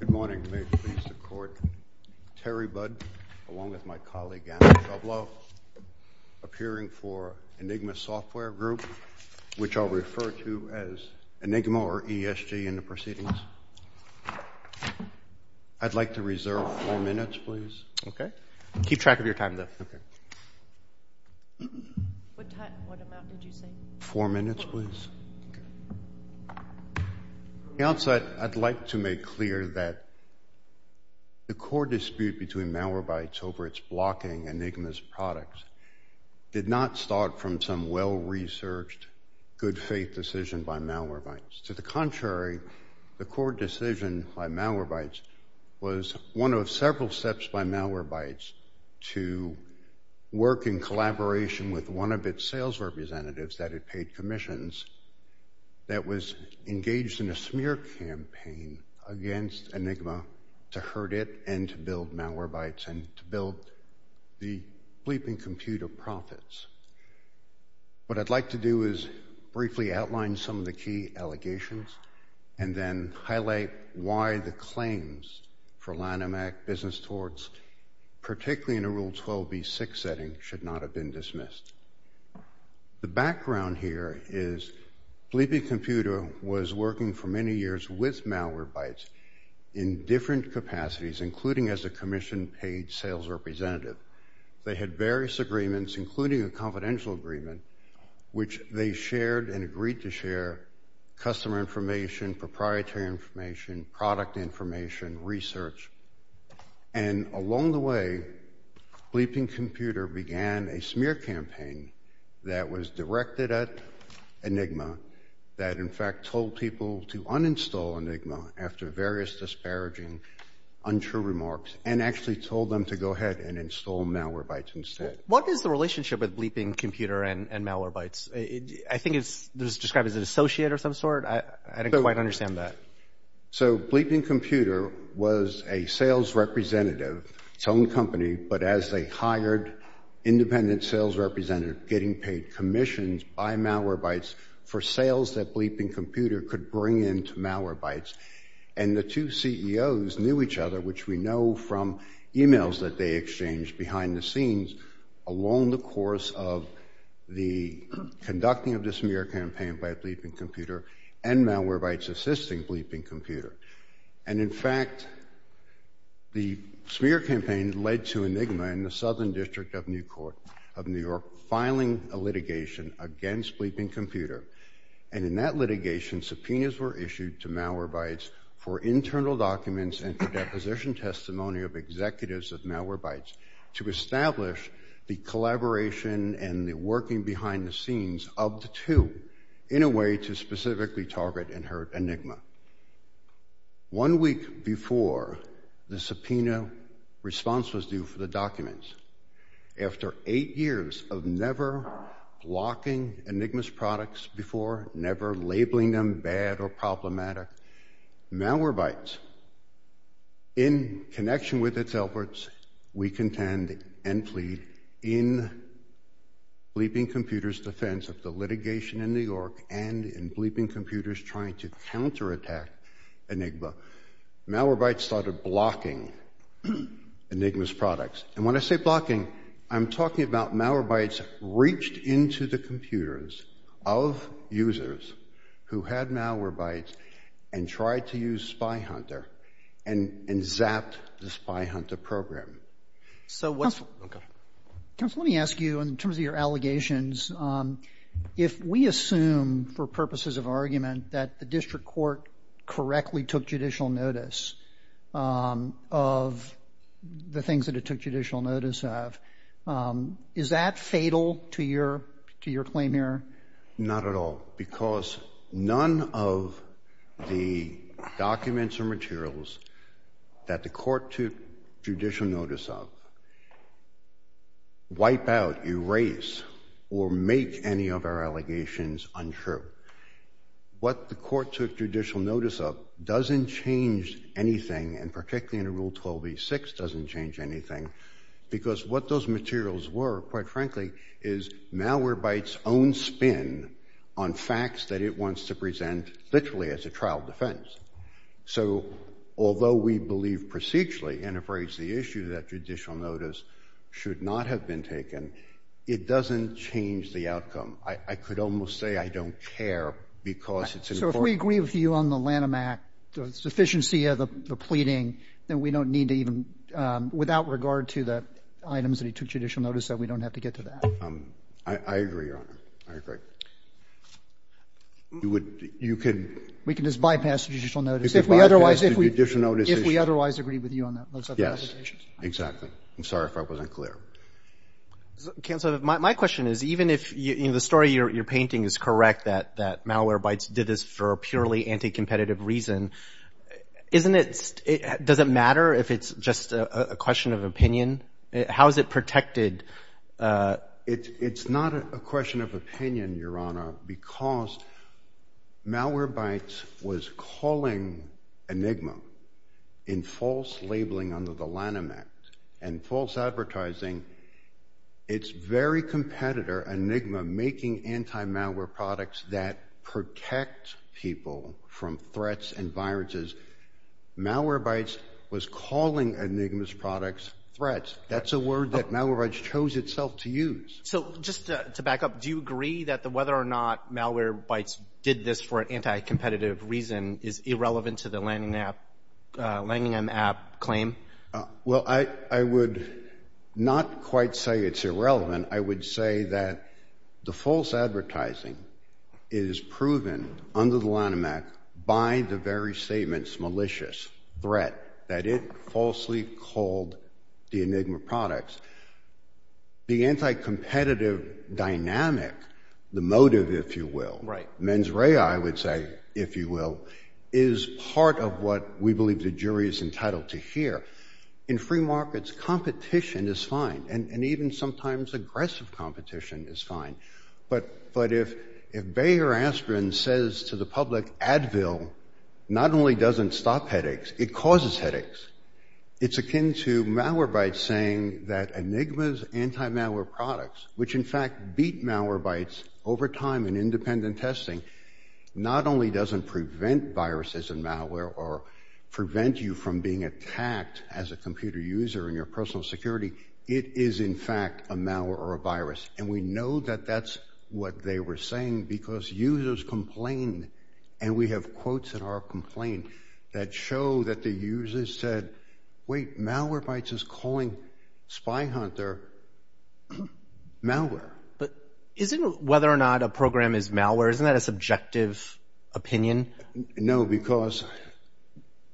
Good morning. May it please the Court. Terry Budd, along with my colleague Andrew Shublow, appearing for Enigma Software Group, which I'll refer to as Enigma or ESG in the proceedings. I'd like to reserve four minutes, please. Okay. Keep track of your time, though. Okay. What time? What amount did you say? Four minutes, please. Okay. To be honest, I'd like to make clear that the core dispute between Malwarebytes over its blocking Enigma's products did not start from some well-researched, good-faith decision by Malwarebytes. To the contrary, the core decision by Malwarebytes was one of several steps by Malwarebytes to work in collaboration with one of its sales representatives that had paid commissions that was engaged in a smear campaign against Enigma to hurt it and to build Malwarebytes and to build the bleeping compute of profits. What I'd like to do is briefly outline some of the key allegations and then highlight why the claims for Lanham Act business towards, particularly in a Rule 12b6 setting, should not have been dismissed. The background here is Bleepy Computer was working for many years with Malwarebytes in different capacities, including as a commission-paid sales representative. They had various agreements, including a confidential agreement, which they shared and agreed to share customer information, proprietary information, product information, research. And along the way, Bleepy Computer began a smear campaign that was directed at Enigma that, in fact, told people to uninstall Enigma after various disparaging, untrue remarks and actually told them to go ahead and install Malwarebytes instead. What is the relationship with Bleepy Computer and Malwarebytes? I think it's described as an associate of some sort. I don't quite understand that. So Bleepy Computer was a sales representative, its own company, but as a hired independent sales representative getting paid commissions by Malwarebytes for sales that Bleepy Computer could bring in to Malwarebytes. And the two CEOs knew each other, which we know from emails that they exchanged behind the scenes along the course of the conducting of this smear campaign by Bleepy Computer and Malwarebytes assisting Bleepy Computer. And in fact, the smear campaign led to Enigma in the Southern District of New York filing a litigation against Bleepy Computer. And in that litigation, subpoenas were issued to Malwarebytes for internal documents and for deposition testimony of executives of Malwarebytes, too, in a way to specifically target and hurt Enigma. One week before the subpoena response was due for the documents, after eight years of never blocking Enigma's products before, never labeling them bad or problematic, Malwarebytes, in connection with its efforts, we contend and plead in Bleepy Computer's defense of the litigation in New York and in Bleepy Computer's trying to counterattack Enigma, Malwarebytes started blocking Enigma's products. And when I say blocking, I'm talking about Malwarebytes reached into the computers of users who had Malwarebytes and tried to use Spy Hunter and zapped the Spy Hunter program. So what's... Okay. Counsel, let me ask you, in terms of your allegations, if we assume for purposes of argument that the district court correctly took judicial notice of the things that it took judicial notice of, is that fatal to your claim here? Not at all, because none of the documents or materials that the court took judicial notice of wipe out, erase, or make any of our allegations untrue. What the court took judicial notice of doesn't change anything, and particularly in Rule 12e6 doesn't change anything, because what those materials were, quite frankly, is Malwarebytes' own spin on facts that it wants to present literally as a trial defense. So although we believe procedurally and have raised the issue that judicial notice should not have been taken, it doesn't change the outcome. I could almost say I don't care because it's important. So if we agree with you on the Lanham Act, the sufficiency of the pleading, then we don't need to even, without regard to the items that he took judicial notice of, we don't have to get to that. I agree, Your Honor. I agree. You would, you can We can just bypass judicial notice. If we otherwise agree with you on those other allegations. Yes, exactly. I'm sorry if I wasn't clear. Counsel, my question is, even if the story you're painting is correct that Malwarebytes did this for a purely anti-competitive reason, doesn't it matter if it's just a question of opinion? How is it protected? It's not a question of opinion, Your Honor, because Malwarebytes was calling Enigma in false labeling under the Lanham Act and false advertising. It's very competitor, Enigma, making anti-malware products that protect people from threats and viruses. Malwarebytes was calling Enigma's products threats. That's a word that Malwarebytes chose itself to use. So just to back up, do you agree that whether or not Malwarebytes did this for an anti-competitive reason is irrelevant to the Lanham Act claim? Well, I would not quite say it's irrelevant. I would say that the false advertising is proven under the Lanham Act by the very statement's malicious threat that it falsely called the Enigma products. The anti-competitive dynamic, the motive, if you will, mens rea, I would say, is part of what we believe the jury is entitled to hear. In free markets, competition is fine, and even sometimes aggressive competition is fine. But if Bayer Aspirin says to the public, Advil not only doesn't stop headaches, it causes headaches, it's akin to Malwarebytes saying that Enigma's anti-malware products, which in fact beat Malwarebytes over time in independent testing, not only doesn't prevent viruses and malware or prevent you from being attacked as a computer user in your personal security, it is in fact a malware or a virus. And we know that that's what they were saying because users complained, and we have quotes in our complaint that show that the users said, wait, Malwarebytes is calling Spy Hunter malware. But isn't whether or not a program is malware, isn't that a subjective opinion? No, because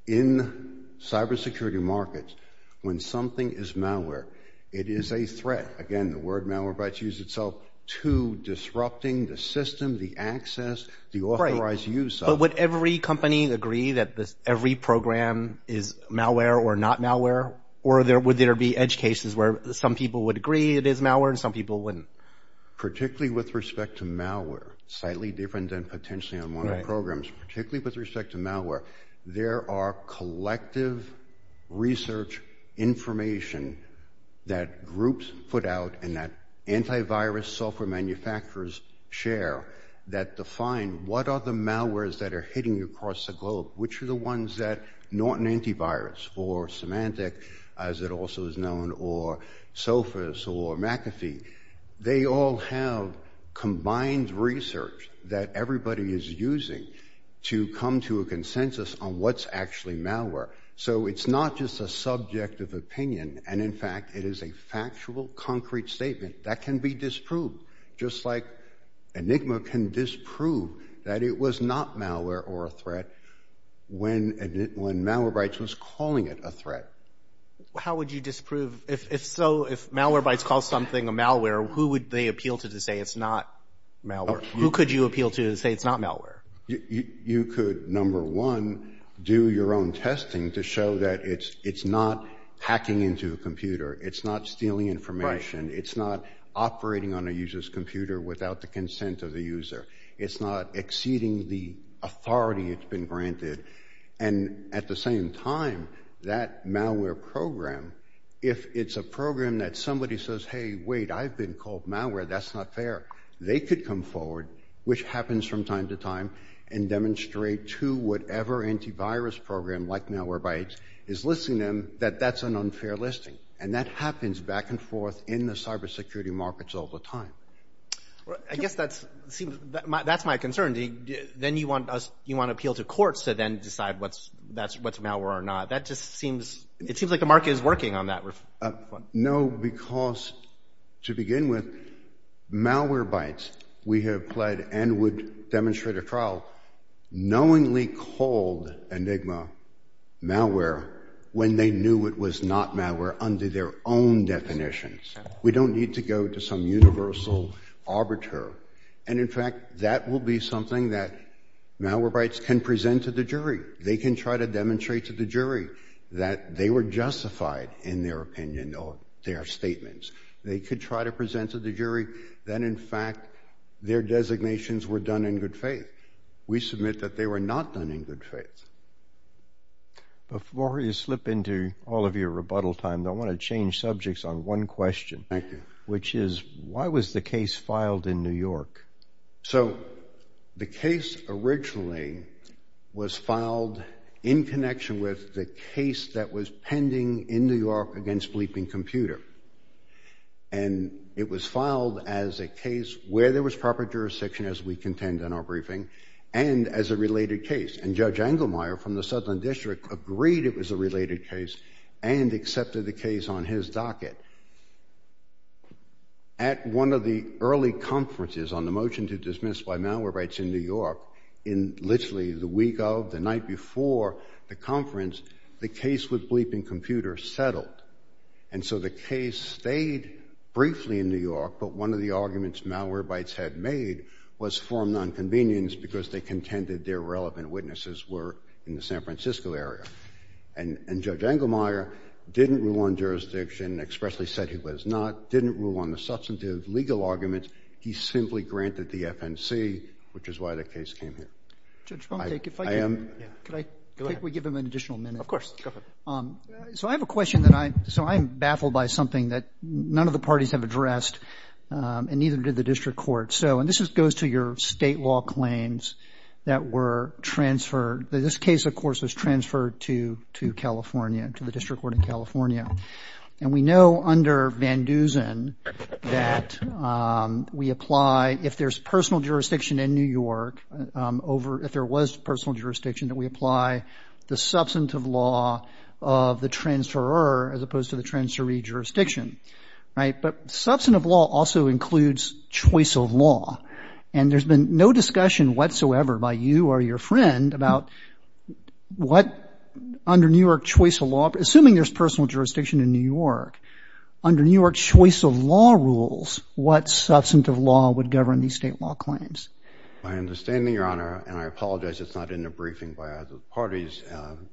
in cybersecurity markets, when something is malware, it is a threat. Again, the word Malwarebytes uses itself to disrupting the system, the access, the authorized use of it. But would every company agree that every program is malware or not malware? Or would there be edge cases where some people would agree it is malware and some people wouldn't? Particularly with respect to malware, slightly different than potentially on one of the programs, particularly with respect to malware, there are collective research information that groups put out and that antivirus software manufacturers share that define what are the malwares that are hitting you across the globe, which are the ones that, not an antivirus or semantic, as it also is known, or SOPHIS or McAfee, they all have combined research that everybody is using to come to a consensus on what's actually malware. So it's not just a subjective opinion, and in fact, it is a factual, concrete statement that can be disproved, just like Enigma can disprove that it was not malware or a threat when Malwarebytes was calling it a threat. How would you disprove, if so, if Malwarebytes calls something a malware, who would they appeal to to say it's not malware? Who could you appeal to to say it's not malware? You could, number one, do your own testing to show that it's not hacking into a computer, it's not stealing information, it's not operating on a user's computer without the consent of the user, it's not exceeding the authority it's been granted, and at the same time, that malware program, if it's a program that somebody says, hey, wait, I've been called malware, that's not fair, they could come forward, which happens from time to time, and demonstrate to whatever antivirus program, like Malwarebytes, is listing them, that that's an unfair listing, and that happens back and forth in the cybersecurity markets all the time. That's my concern. Then you want to appeal to courts to then decide what's malware or not. That just seems, it seems like the market is working on that. No, because, to begin with, Malwarebytes, we have pled, and would demonstrate at trial, knowingly called Enigma malware when they knew it was not malware under their own definitions. We don't need to go to some universal arbiter, and in fact, that will be something that Malwarebytes can present to the jury. They can try to demonstrate to the jury that they were justified in their opinion or their statements. They could try to present to the jury that, in fact, their designations were done in good faith. We submit that they were not done in good faith. Before you slip into all of your rebuttal time, I want to change subjects on one question. Thank you. Which is, why was the case filed in New York? So, the case originally was filed in connection with the case that was pending in New York against Bleeping Computer, and it was filed as a case where there was proper jurisdiction, as we contend in our briefing, and as a related case, and Judge Engelmeyer from the Southern District agreed it was a related case and accepted the case on his docket. At one of the early conferences on the motion to dismiss by Malwarebytes in New York, in literally the week of, the night before the conference, the case with Bleeping Computer settled, and so the case stayed briefly in New York, but one of the arguments Malwarebytes had made was for nonconvenience because they contended their relevant witnesses were in the San Francisco area. And Judge Engelmeyer didn't rule on jurisdiction, expressly said he was not, didn't rule on the substantive legal arguments. He simply granted the FNC, which is why the case came here. I am. I am. Go ahead. Could I give him an additional minute? Of course. Go for it. So I have a question that I, so I am baffled by something that none of the parties have addressed, and neither did the District Court. So, and this goes to your state law claims that were transferred. This case, of course, was transferred to California, to the District Court of California. And we know under Van Dusen that we apply, if there's personal jurisdiction in New York over, if there was personal jurisdiction, that we apply the substantive law of the transferer as opposed to the transferee jurisdiction. Right? But substantive law also includes choice of law. And there's been no discussion whatsoever by you or your friend about what, under New York choice of law, assuming there's personal jurisdiction in New York, under New York choice of law rules, what substantive law would govern these state law claims? My understanding, Your Honor, and I apologize it's not in the briefing by either of the parties,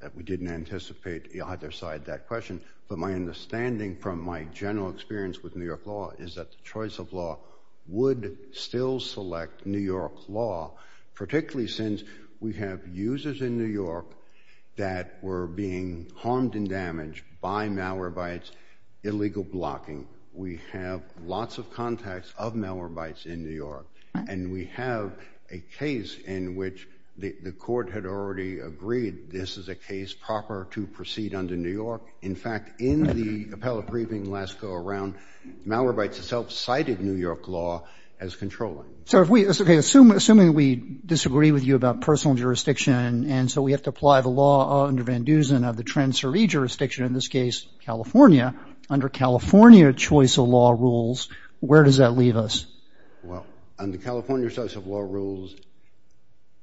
that we didn't anticipate either side that question. But my understanding from my general experience with New York law is that the choice of law would still select New York law, particularly since we have users in New York that were being harmed and damaged by Malwarebytes, illegal blocking. We have lots of contacts of Malwarebytes in New York. And we have a case in which the court had already agreed this is a case proper to proceed under New York. In fact, in the appellate briefing last go-around, Malwarebytes itself cited New York law as controlling. So if we assume, assuming we disagree with you about personal jurisdiction and so we have to apply the law under Van Dusen of the transferee jurisdiction, in this case California, under California choice of law rules, where does that leave us? Well, under California choice of law rules,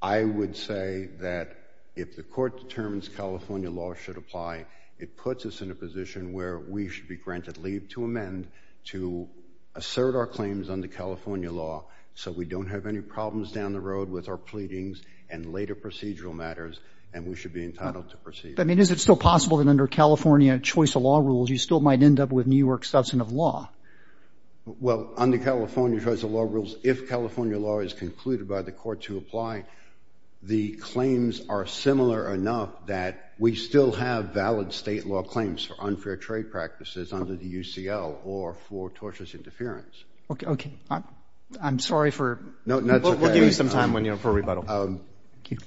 I would say that if the court determines California law should apply, it puts us in a position where we should be granted leave to amend to assert our claims under California law so we don't have any problems down the road with our pleadings and later procedural matters and we should be entitled to proceed. I mean, is it still possible that under California choice of law rules you still might end up with New York's substance of law? Well, under California choice of law rules, if California law is concluded by the court to apply, the claims are similar enough that we still have valid state law claims for unfair trade practices under the UCL or for torturous interference. Okay. I'm sorry for... No, that's okay. We'll give you some time for rebuttal. Thank you.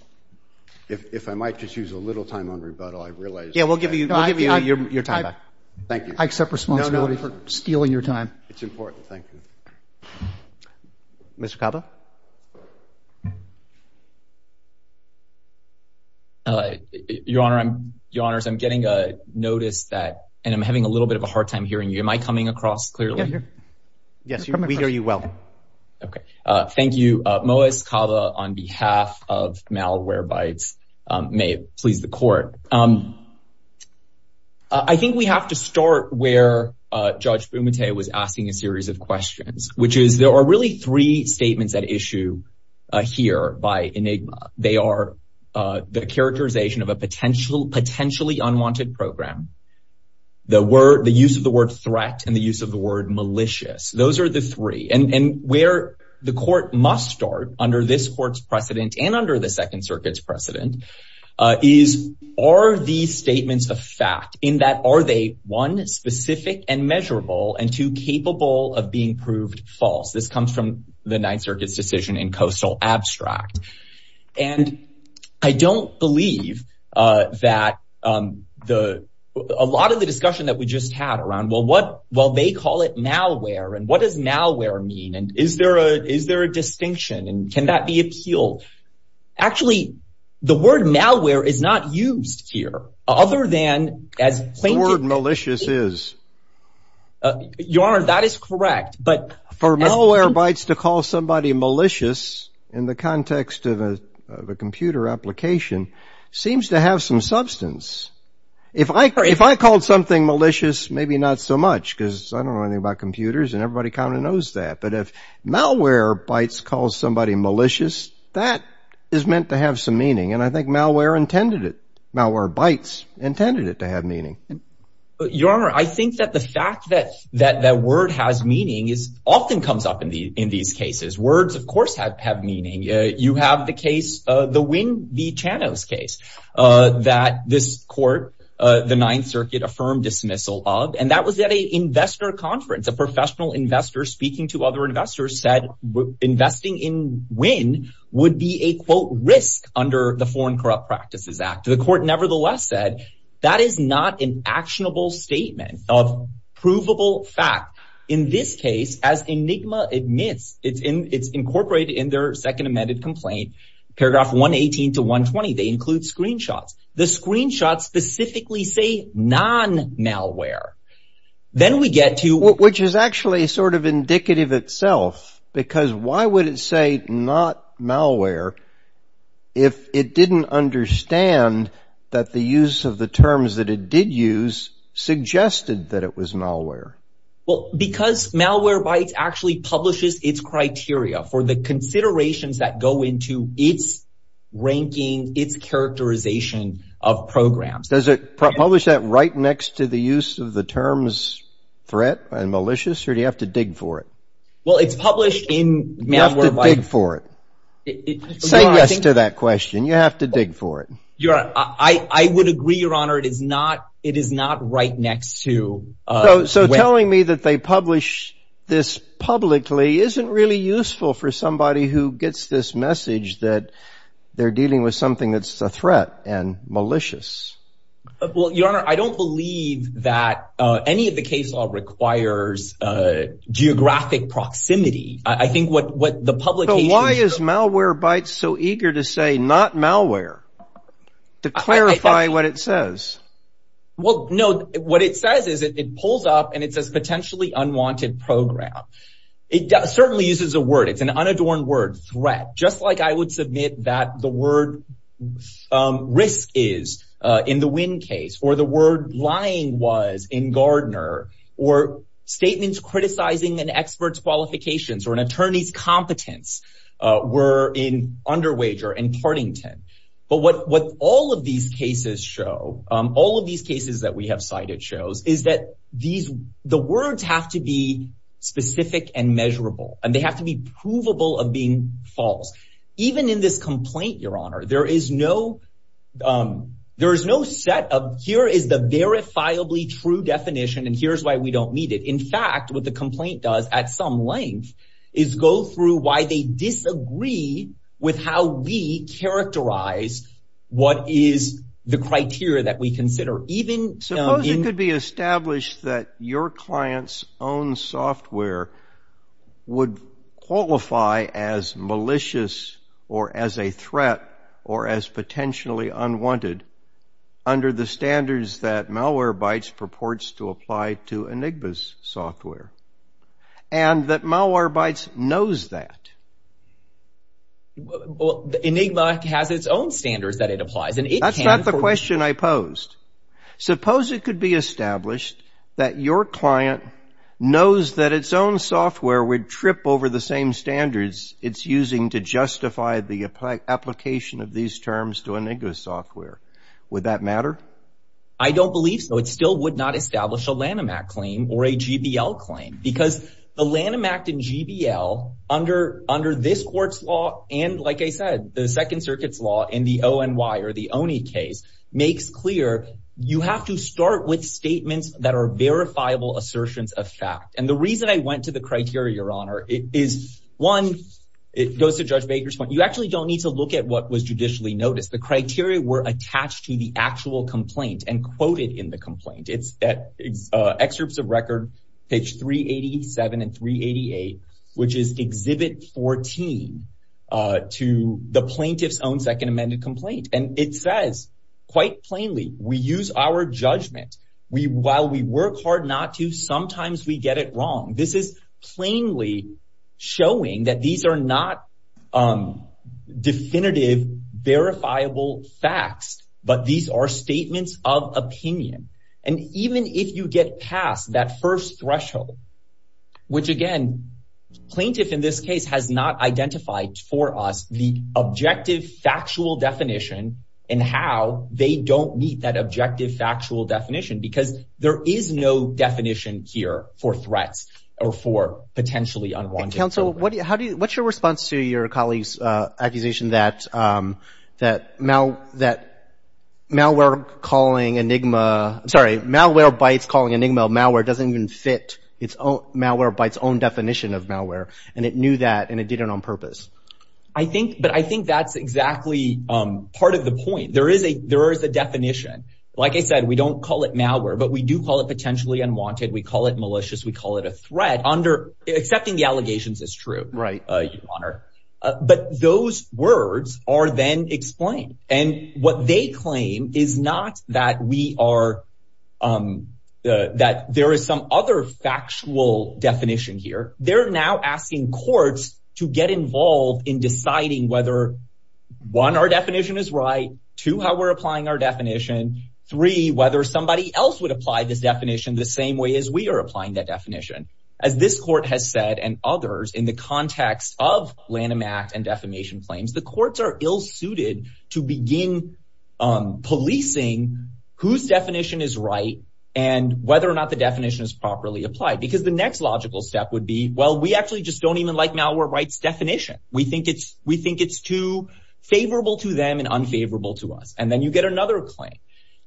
If I might just use a little time on rebuttal, I realize... Yeah, we'll give you your time back. Thank you. I accept responsibility for stealing your time. It's important. Thank you. Mr. Cava? Your Honor, I'm getting a notice that, and I'm having a little bit of a hard time hearing you. Am I coming across clearly? Yes, we hear you well. Okay. Thank you. Moaz Cava on behalf of Malwarebytes. May it please the court. I think we have to start where Judge Bumate was asking a series of questions, which is there are really three statements at issue here by Enigma. They are the characterization of a potentially unwanted program, the use of the word threat, and the use of the word malicious. Those are the three. And where the court must start under this court's precedent and under the Second Circuit's precedent is, are these statements a fact in that are they, one, specific and measurable, and two, capable of being proved false? This comes from the Ninth Circuit's decision in Coastal Abstract. And I don't believe that a lot of the discussion that we just had around, well, they call it malware. And what does malware mean? And is there a distinction? And can that be appealed? Actually, the word malware is not used here, other than as— The word malicious is. Your Honor, that is correct. But— For malware bytes to call somebody malicious in the context of a computer application seems to have some substance. If I called something malicious, maybe not so much, because I don't know anything about computers, and everybody kind of knows that. But if malware bytes calls somebody malicious, that is meant to have some meaning. And I think malware intended it. Malware bytes intended it to have meaning. Your Honor, I think that the fact that word has meaning often comes up in these cases. Words, of course, have meaning. You have the case, the Wynn v. Chanos case, that this court, the Ninth Circuit, affirmed dismissal of. And that was at an investor conference. A professional investor speaking to other investors said investing in Wynn would be a, quote, risk under the Foreign Corrupt Practices Act. The court nevertheless said that is not an actionable statement of provable fact. In this case, as Enigma admits, it's incorporated in their second amended complaint, paragraph 118 to 120. They include screenshots. The screenshots specifically say non-malware. Then we get to— Which is actually sort of indicative itself, because why would it say not malware if it didn't understand that the use of the terms that it did use suggested that it was malware? Well, because Malwarebytes actually publishes its criteria for the considerations that go into its ranking, its characterization of programs. Does it publish that right next to the use of the terms threat and malicious, or do you have to dig for it? Well, it's published in Malwarebytes— You have to dig for it. Say yes to that question. You have to dig for it. I would agree, Your Honor. It is not right next to— So telling me that they publish this publicly isn't really useful for somebody who gets this message that they're dealing with something that's a threat and malicious. Well, Your Honor, I don't believe that any of the case law requires geographic proximity. I think what the publication— So why is Malwarebytes so eager to say not malware to clarify what it says? Well, no, what it says is it pulls up and it says potentially unwanted program. It certainly uses a word. It's an unadorned word, threat, just like I would submit that the word risk is in the attorney's competence were in Underwager and Partington. But what all of these cases show, all of these cases that we have cited shows, is that the words have to be specific and measurable, and they have to be provable of being false. Even in this complaint, Your Honor, there is no set of, here is the verifiably true definition, and here's why we don't need it. In fact, what the complaint does at some length is go through why they disagree with how we characterize what is the criteria that we consider. Suppose it could be established that your client's own software would qualify as malicious or as a threat or as potentially unwanted under the standards that Malwarebytes purports to apply to Enigma's software, and that Malwarebytes knows that. Well, Enigma has its own standards that it applies, and it can. That's not the question I posed. Suppose it could be established that your client knows that its own software would trip over the same standards it's using to justify the application of these terms to Enigma's software. Would that matter? I don't believe so. It still would not establish a Lanham Act claim or a GBL claim because the Lanham Act and GBL under this court's law, and like I said, the Second Circuit's law in the ONY or the ONI case, makes clear you have to start with statements that are verifiable assertions of fact. And the reason I went to the criteria, Your Honor, is one, it goes to Judge Baker's point, you actually don't need to look at what was judicially noticed. The criteria were attached to the actual complaint and quoted in the complaint. It's Excerpts of Record, page 387 and 388, which is Exhibit 14, to the plaintiff's own second amended complaint. And it says quite plainly, we use our judgment. While we work hard not to, sometimes we get it wrong. This is plainly showing that these are not definitive, verifiable facts, but these are statements of opinion. And even if you get past that first threshold, which again, plaintiff in this case has not identified for us the objective factual definition and how they don't meet that objective factual definition, because there is no definition here for threats or for potentially unwanted threats. And Counsel, what's your response to your colleague's accusation that malware calling Enigma, I'm sorry, malware by its calling Enigma malware doesn't even fit its own, malware by its own definition of malware. And it knew that and it did it on purpose. I think, but I think that's exactly part of the point. There is a definition. Like I said, we don't call it malware, but we do call it potentially unwanted. We call it malicious. We call it a threat under accepting the allegations is true. Right. Your Honor. But those words are then explained. And what they claim is not that we are, that there is some other factual definition here. They're now asking courts to get involved in deciding whether one, our definition is right to how we're applying our definition. Three, whether somebody else would apply this definition the same way as we are applying that definition. As this court has said, and others in the context of Lanham Act and defamation claims, the courts are ill suited to begin policing whose definition is right and whether or not the definition is properly applied, because the next logical step would be, well, we actually just don't even like malware rights definition. We think it's too favorable to them and unfavorable to us. And then you get another claim.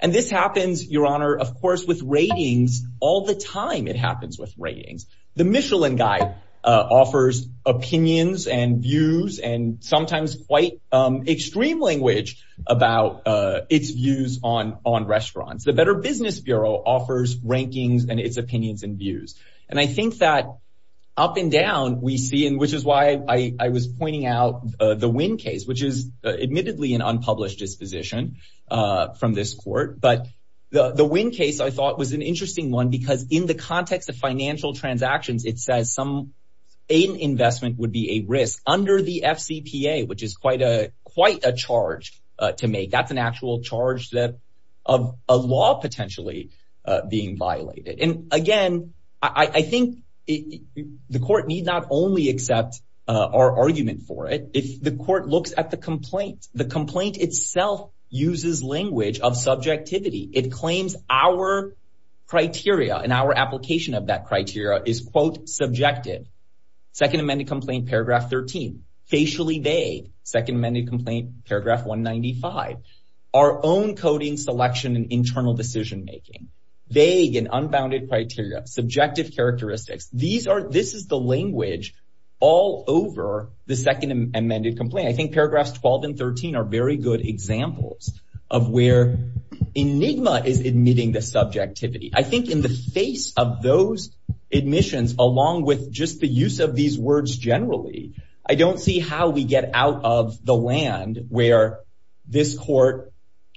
And this happens, Your Honor, of course, with ratings. All the time it happens with ratings. The Michelin Guide offers opinions and views and sometimes quite extreme language about its views on restaurants. The Better Business Bureau offers rankings and its opinions and views. And I think that up and down we see, and which is why I was pointing out the Wynn case, which is admittedly an unpublished disposition from this court. But the Wynn case, I thought, was an interesting one because in the context of financial transactions, it says some investment would be a risk under the FCPA, which is quite a charge to make. That's an actual charge of a law potentially being violated. And again, I think the court need not only accept our argument for it, if the court looks at the complaint. The complaint itself uses language of subjectivity. It claims our criteria and our application of that criteria is, quote, subjective. Second amended complaint, paragraph 13. Facially vague. Second amended complaint, paragraph 195. Our own coding, selection, and internal decision making. Vague and unbounded criteria. Subjective characteristics. This is the language all over the second amended complaint. I think paragraphs 12 and 13 are very good examples of where enigma is admitting the subjectivity. I think in the face of those admissions, along with just the use of these words generally, I don't see how we get out of the land where this court,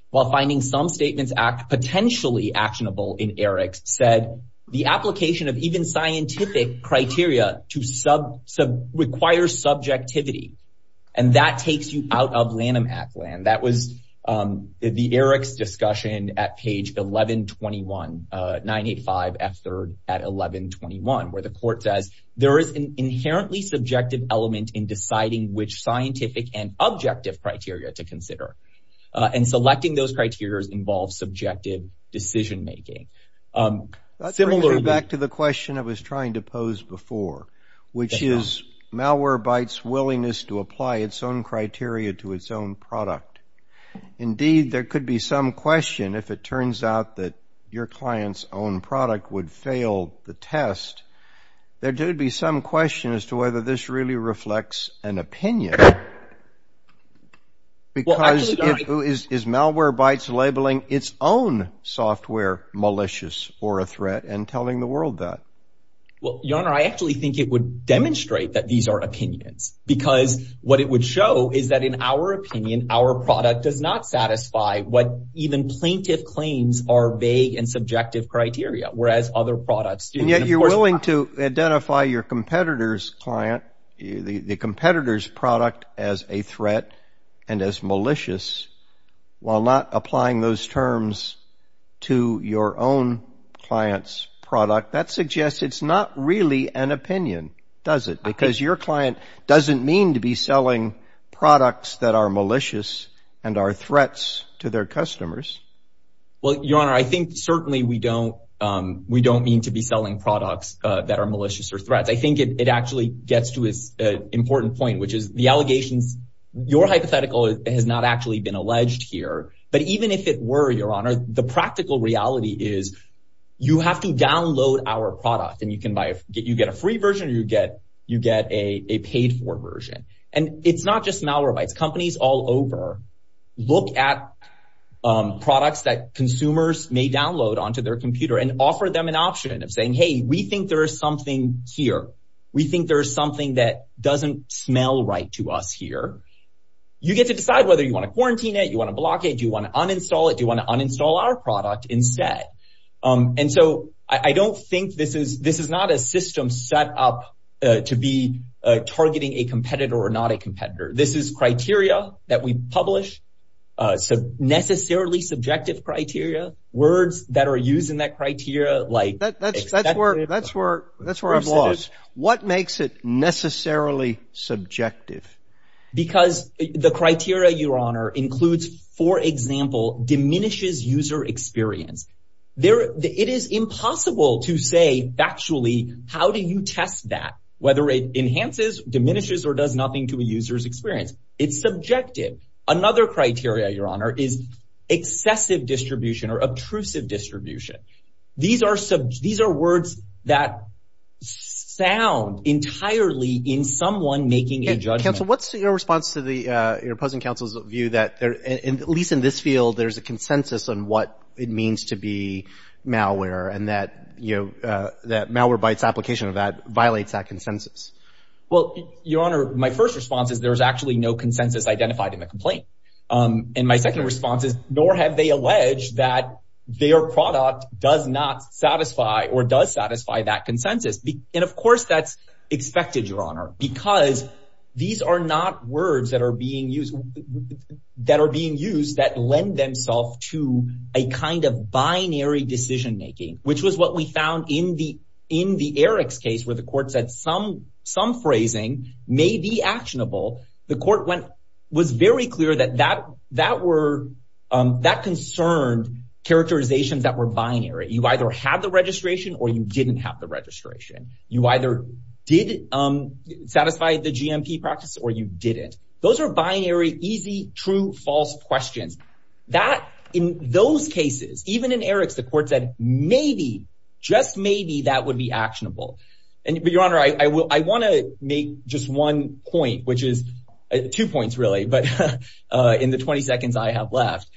while finding some statements potentially actionable in ERICS, said the application of even scientific criteria requires subjectivity. And that takes you out of Lanham Act land. That was the ERICS discussion at page 1121, 985 F3 at 1121, where the court says, there is an inherently subjective element in deciding which scientific and objective criteria to consider. And selecting those criteria involves subjective decision making. That brings me back to the question I was trying to pose before, which is Malwarebytes' willingness to apply its own criteria to its own product. Indeed, there could be some question if it turns out that your client's own product would fail the test, there could be some question as to whether this really reflects an opinion. Because is Malwarebytes labeling its own software malicious or a threat and telling the world that? Well, Your Honor, I actually think it would demonstrate that these are opinions. Because what it would show is that in our opinion, our product does not satisfy what even plaintiff claims are vague and subjective criteria, whereas other products do. And yet you're willing to identify your competitor's client, the competitor's product as a threat and as malicious, while not applying those terms to your own client's product. That suggests it's not really an opinion, does it? Because your client doesn't mean to be selling products that are malicious and are threats to their customers. Well, Your Honor, I think certainly we don't mean to be selling products that are malicious or threats. I think it actually gets to an important point, which is the allegations. Your hypothetical has not actually been alleged here. But even if it were, Your Honor, the practical reality is you have to download our product and you can buy it. You get a free version or you get a paid for version. And it's not just Malwarebytes. Companies all over look at products that consumers may download onto their computer and offer them an option of saying, hey, we think there is something here. We think there is something that doesn't smell right to us here. You get to decide whether you want to quarantine it, you want to block it, you want to uninstall it, you want to uninstall our product instead. And so I don't think this is this is not a system set up to be targeting a competitor or not a competitor. This is criteria that we publish. So necessarily subjective criteria. Words that are used in that criteria like that. That's where that's where that's where I've lost. What makes it necessarily subjective? Because the criteria, Your Honor, includes, for example, diminishes user experience. It is impossible to say factually, how do you test that? Whether it enhances, diminishes or does nothing to a user's experience. It's subjective. Another criteria, Your Honor, is excessive distribution or obtrusive distribution. These are words that sound entirely in someone making a judgment. Counsel, what's your response to the opposing counsel's view that at least in this field, there's a consensus on what it means to be malware and that, you know, that malware by its application of that violates that consensus? Well, Your Honor, my first response is there is actually no consensus identified in the complaint. And my second response is, nor have they alleged that their product does not satisfy or does satisfy that consensus. And of course, that's expected, Your Honor, because these are not words that are being used, that are being used, that lend themselves to a kind of binary decision making, which was what we found in the in the Eric's case where the court said some some phrasing may be actionable. The court went was very clear that that that were that concerned characterizations that were binary. You either have the registration or you didn't have the registration. You either did satisfy the GMP practice or you didn't. Those are binary, easy, true, false questions that in those cases, even in Eric's, the court said maybe just maybe that would be actionable. And, Your Honor, I want to make just one point, which is two points, really. But in the 20 seconds I have left,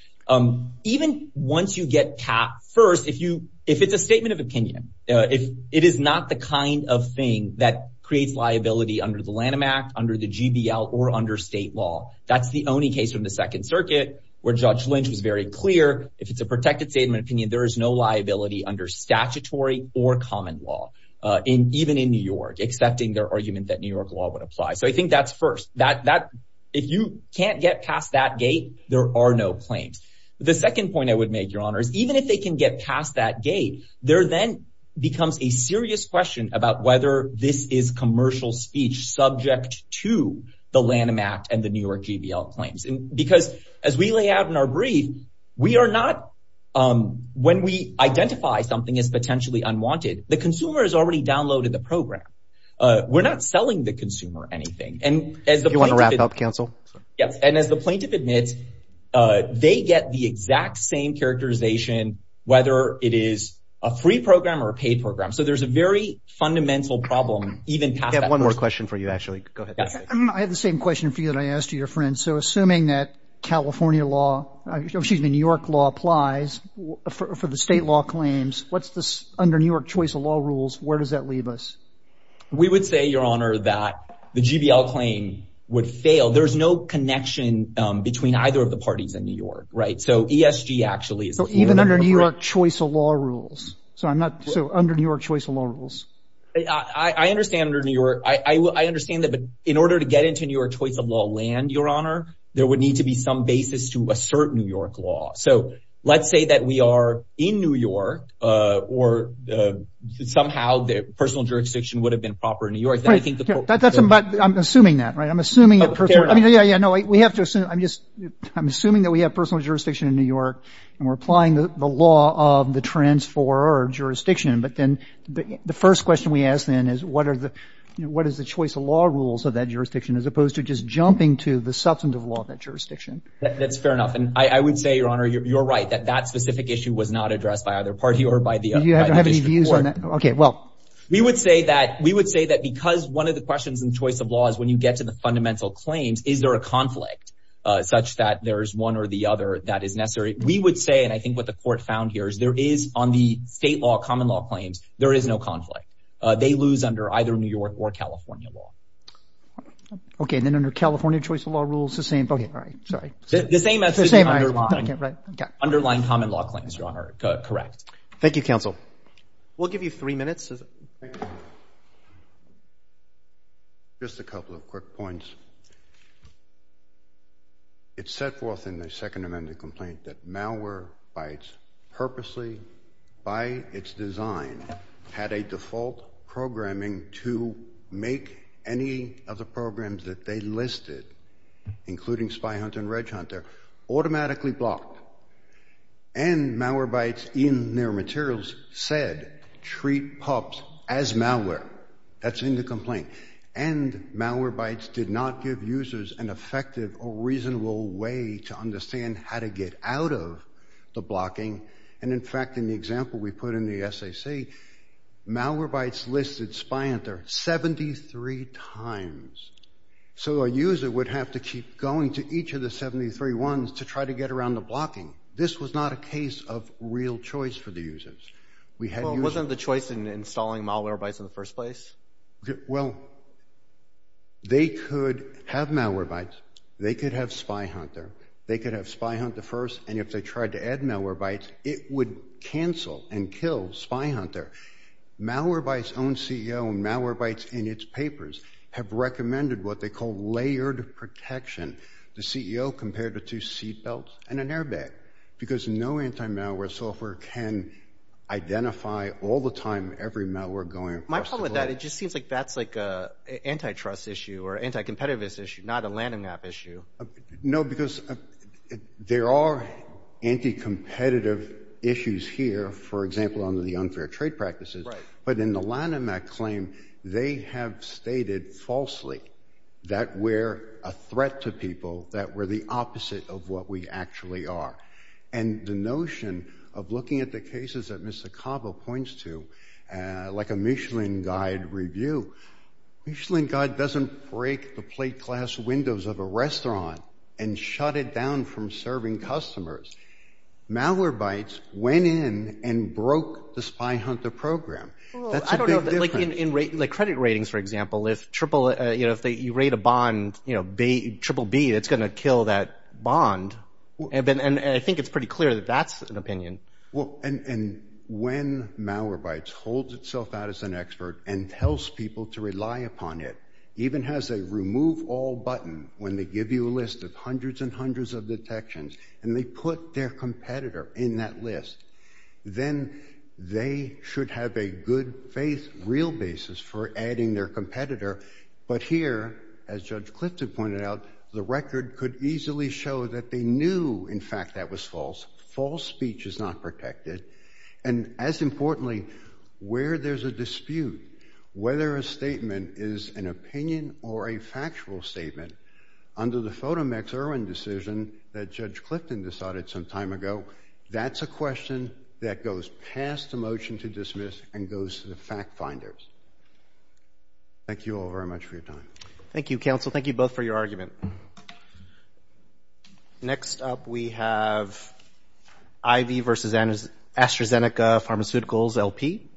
even once you get caught first, if you if it's a statement of opinion, if it is not the kind of thing that creates liability under the Lanham Act, under the GBL or under state law, that's the only case from the Second Circuit where Judge Lynch was very clear. If it's a protected statement of opinion, there is no liability under statutory or common law. And even in New York, accepting their argument that New York law would apply. So I think that's first that that if you can't get past that gate, there are no claims. The second point I would make, Your Honor, is even if they can get past that gate, there then becomes a serious question about whether this is commercial speech subject to the Lanham Act and the New York GBL claims. And because as we lay out in our brief, we are not. When we identify something as potentially unwanted, the consumer has already downloaded the program. We're not selling the consumer anything. And as you want to wrap up, counsel. And as the plaintiff admits, they get the exact same characterization, whether it is a free program or a paid program. So there's a very fundamental problem. Even have one more question for you, actually. I have the same question for you that I asked your friend. So assuming that California law, New York law applies for the state law claims. What's this under New York choice of law rules? Where does that leave us? We would say, Your Honor, that the GBL claim would fail. There is no connection between either of the parties in New York. Right. So ESG actually is even under New York choice of law rules. So I'm not so under New York choice of law rules. I understand under New York. I understand that. But in order to get into New York choice of law land, Your Honor, there would need to be some basis to assert New York law. So let's say that we are in New York or somehow the personal jurisdiction would have been proper in New York. I think that's. But I'm assuming that. Right. I'm assuming that. I mean, yeah, yeah. No, we have to assume I'm just I'm assuming that we have personal jurisdiction in New York. And we're applying the law of the transfer or jurisdiction. But then the first question we ask, then, is what are the what is the choice of law rules of that jurisdiction, as opposed to just jumping to the substantive law of that jurisdiction? That's fair enough. And I would say, Your Honor, you're right that that specific issue was not addressed by either party or by the. Do you have any views on that? OK, well, we would say that we would say that because one of the questions in choice of law is when you get to the fundamental claims, is there a conflict such that there is one or the other that is necessary? We would say. And I think what the court found here is there is on the state law, common law claims. There is no conflict. They lose under either New York or California law. OK, then under California choice of law rules, the same. All right. Sorry. The same as the same underlying common law claims. Correct. Thank you, counsel. We'll give you three minutes. Just a couple of quick points. It's set forth in the Second Amendment complaint that malware bytes purposely, by its design, had a default programming to make any of the programs that they listed, including SpyHunter and RegHunter, automatically blocked. And malware bytes in their materials said, treat pups as malware. That's in the complaint. And malware bytes did not give users an effective or reasonable way to understand how to get out of the blocking. And in fact, in the example we put in the SAC, malware bytes listed SpyHunter 73 times. So a user would have to keep going to each of the 73 ones to try to get around the blocking. This was not a case of real choice for the users. Well, it wasn't the choice in installing malware bytes in the first place? Well, they could have malware bytes. They could have SpyHunter. They could have SpyHunter first. And if they tried to add malware bytes, it would cancel and kill SpyHunter. Malware bytes own CEO, and malware bytes in its papers have recommended what they call layered protection. The CEO compared it to seatbelts and an airbag, because no anti-malware software can identify all the time every malware going across the globe. My problem with that, it just seems like that's like an antitrust issue or anti-competitivist issue, not a LANDMAP issue. No, because there are anti-competitive issues here, for example, under the unfair trade practices. But in the LANDMAP claim, they have stated falsely that we're a threat to people, that we're the opposite of what we actually are. And the notion of looking at the cases that Mr. Cabo points to, like a Michelin Guide review, Michelin Guide doesn't break the plate glass windows of a restaurant and shut it down from serving customers. Malware bytes went in and broke the SpyHunter program. That's a big difference. I don't know, like in credit ratings, for example, if you rate a bond, you know, triple B, it's going to kill that bond. And I think it's pretty clear that that's an opinion. Well, and when malware bytes holds itself out as an expert and tells people to rely upon it, even has a remove all button when they give you a list of hundreds and hundreds of detections and they put their competitor in that list, then they should have a good faith, real basis for adding their competitor. But here, as Judge Clifton pointed out, the record could easily show that they knew, in fact, that was false. False speech is not protected. And as importantly, where there's a dispute, whether a statement is an opinion or a factual statement, under the Fotomax Irwin decision that Judge Clifton decided some time ago, that's a question that goes past the motion to dismiss and goes to the fact finders. Thank you all very much for your time. Next up, we have IV versus AstraZeneca Pharmaceuticals LP.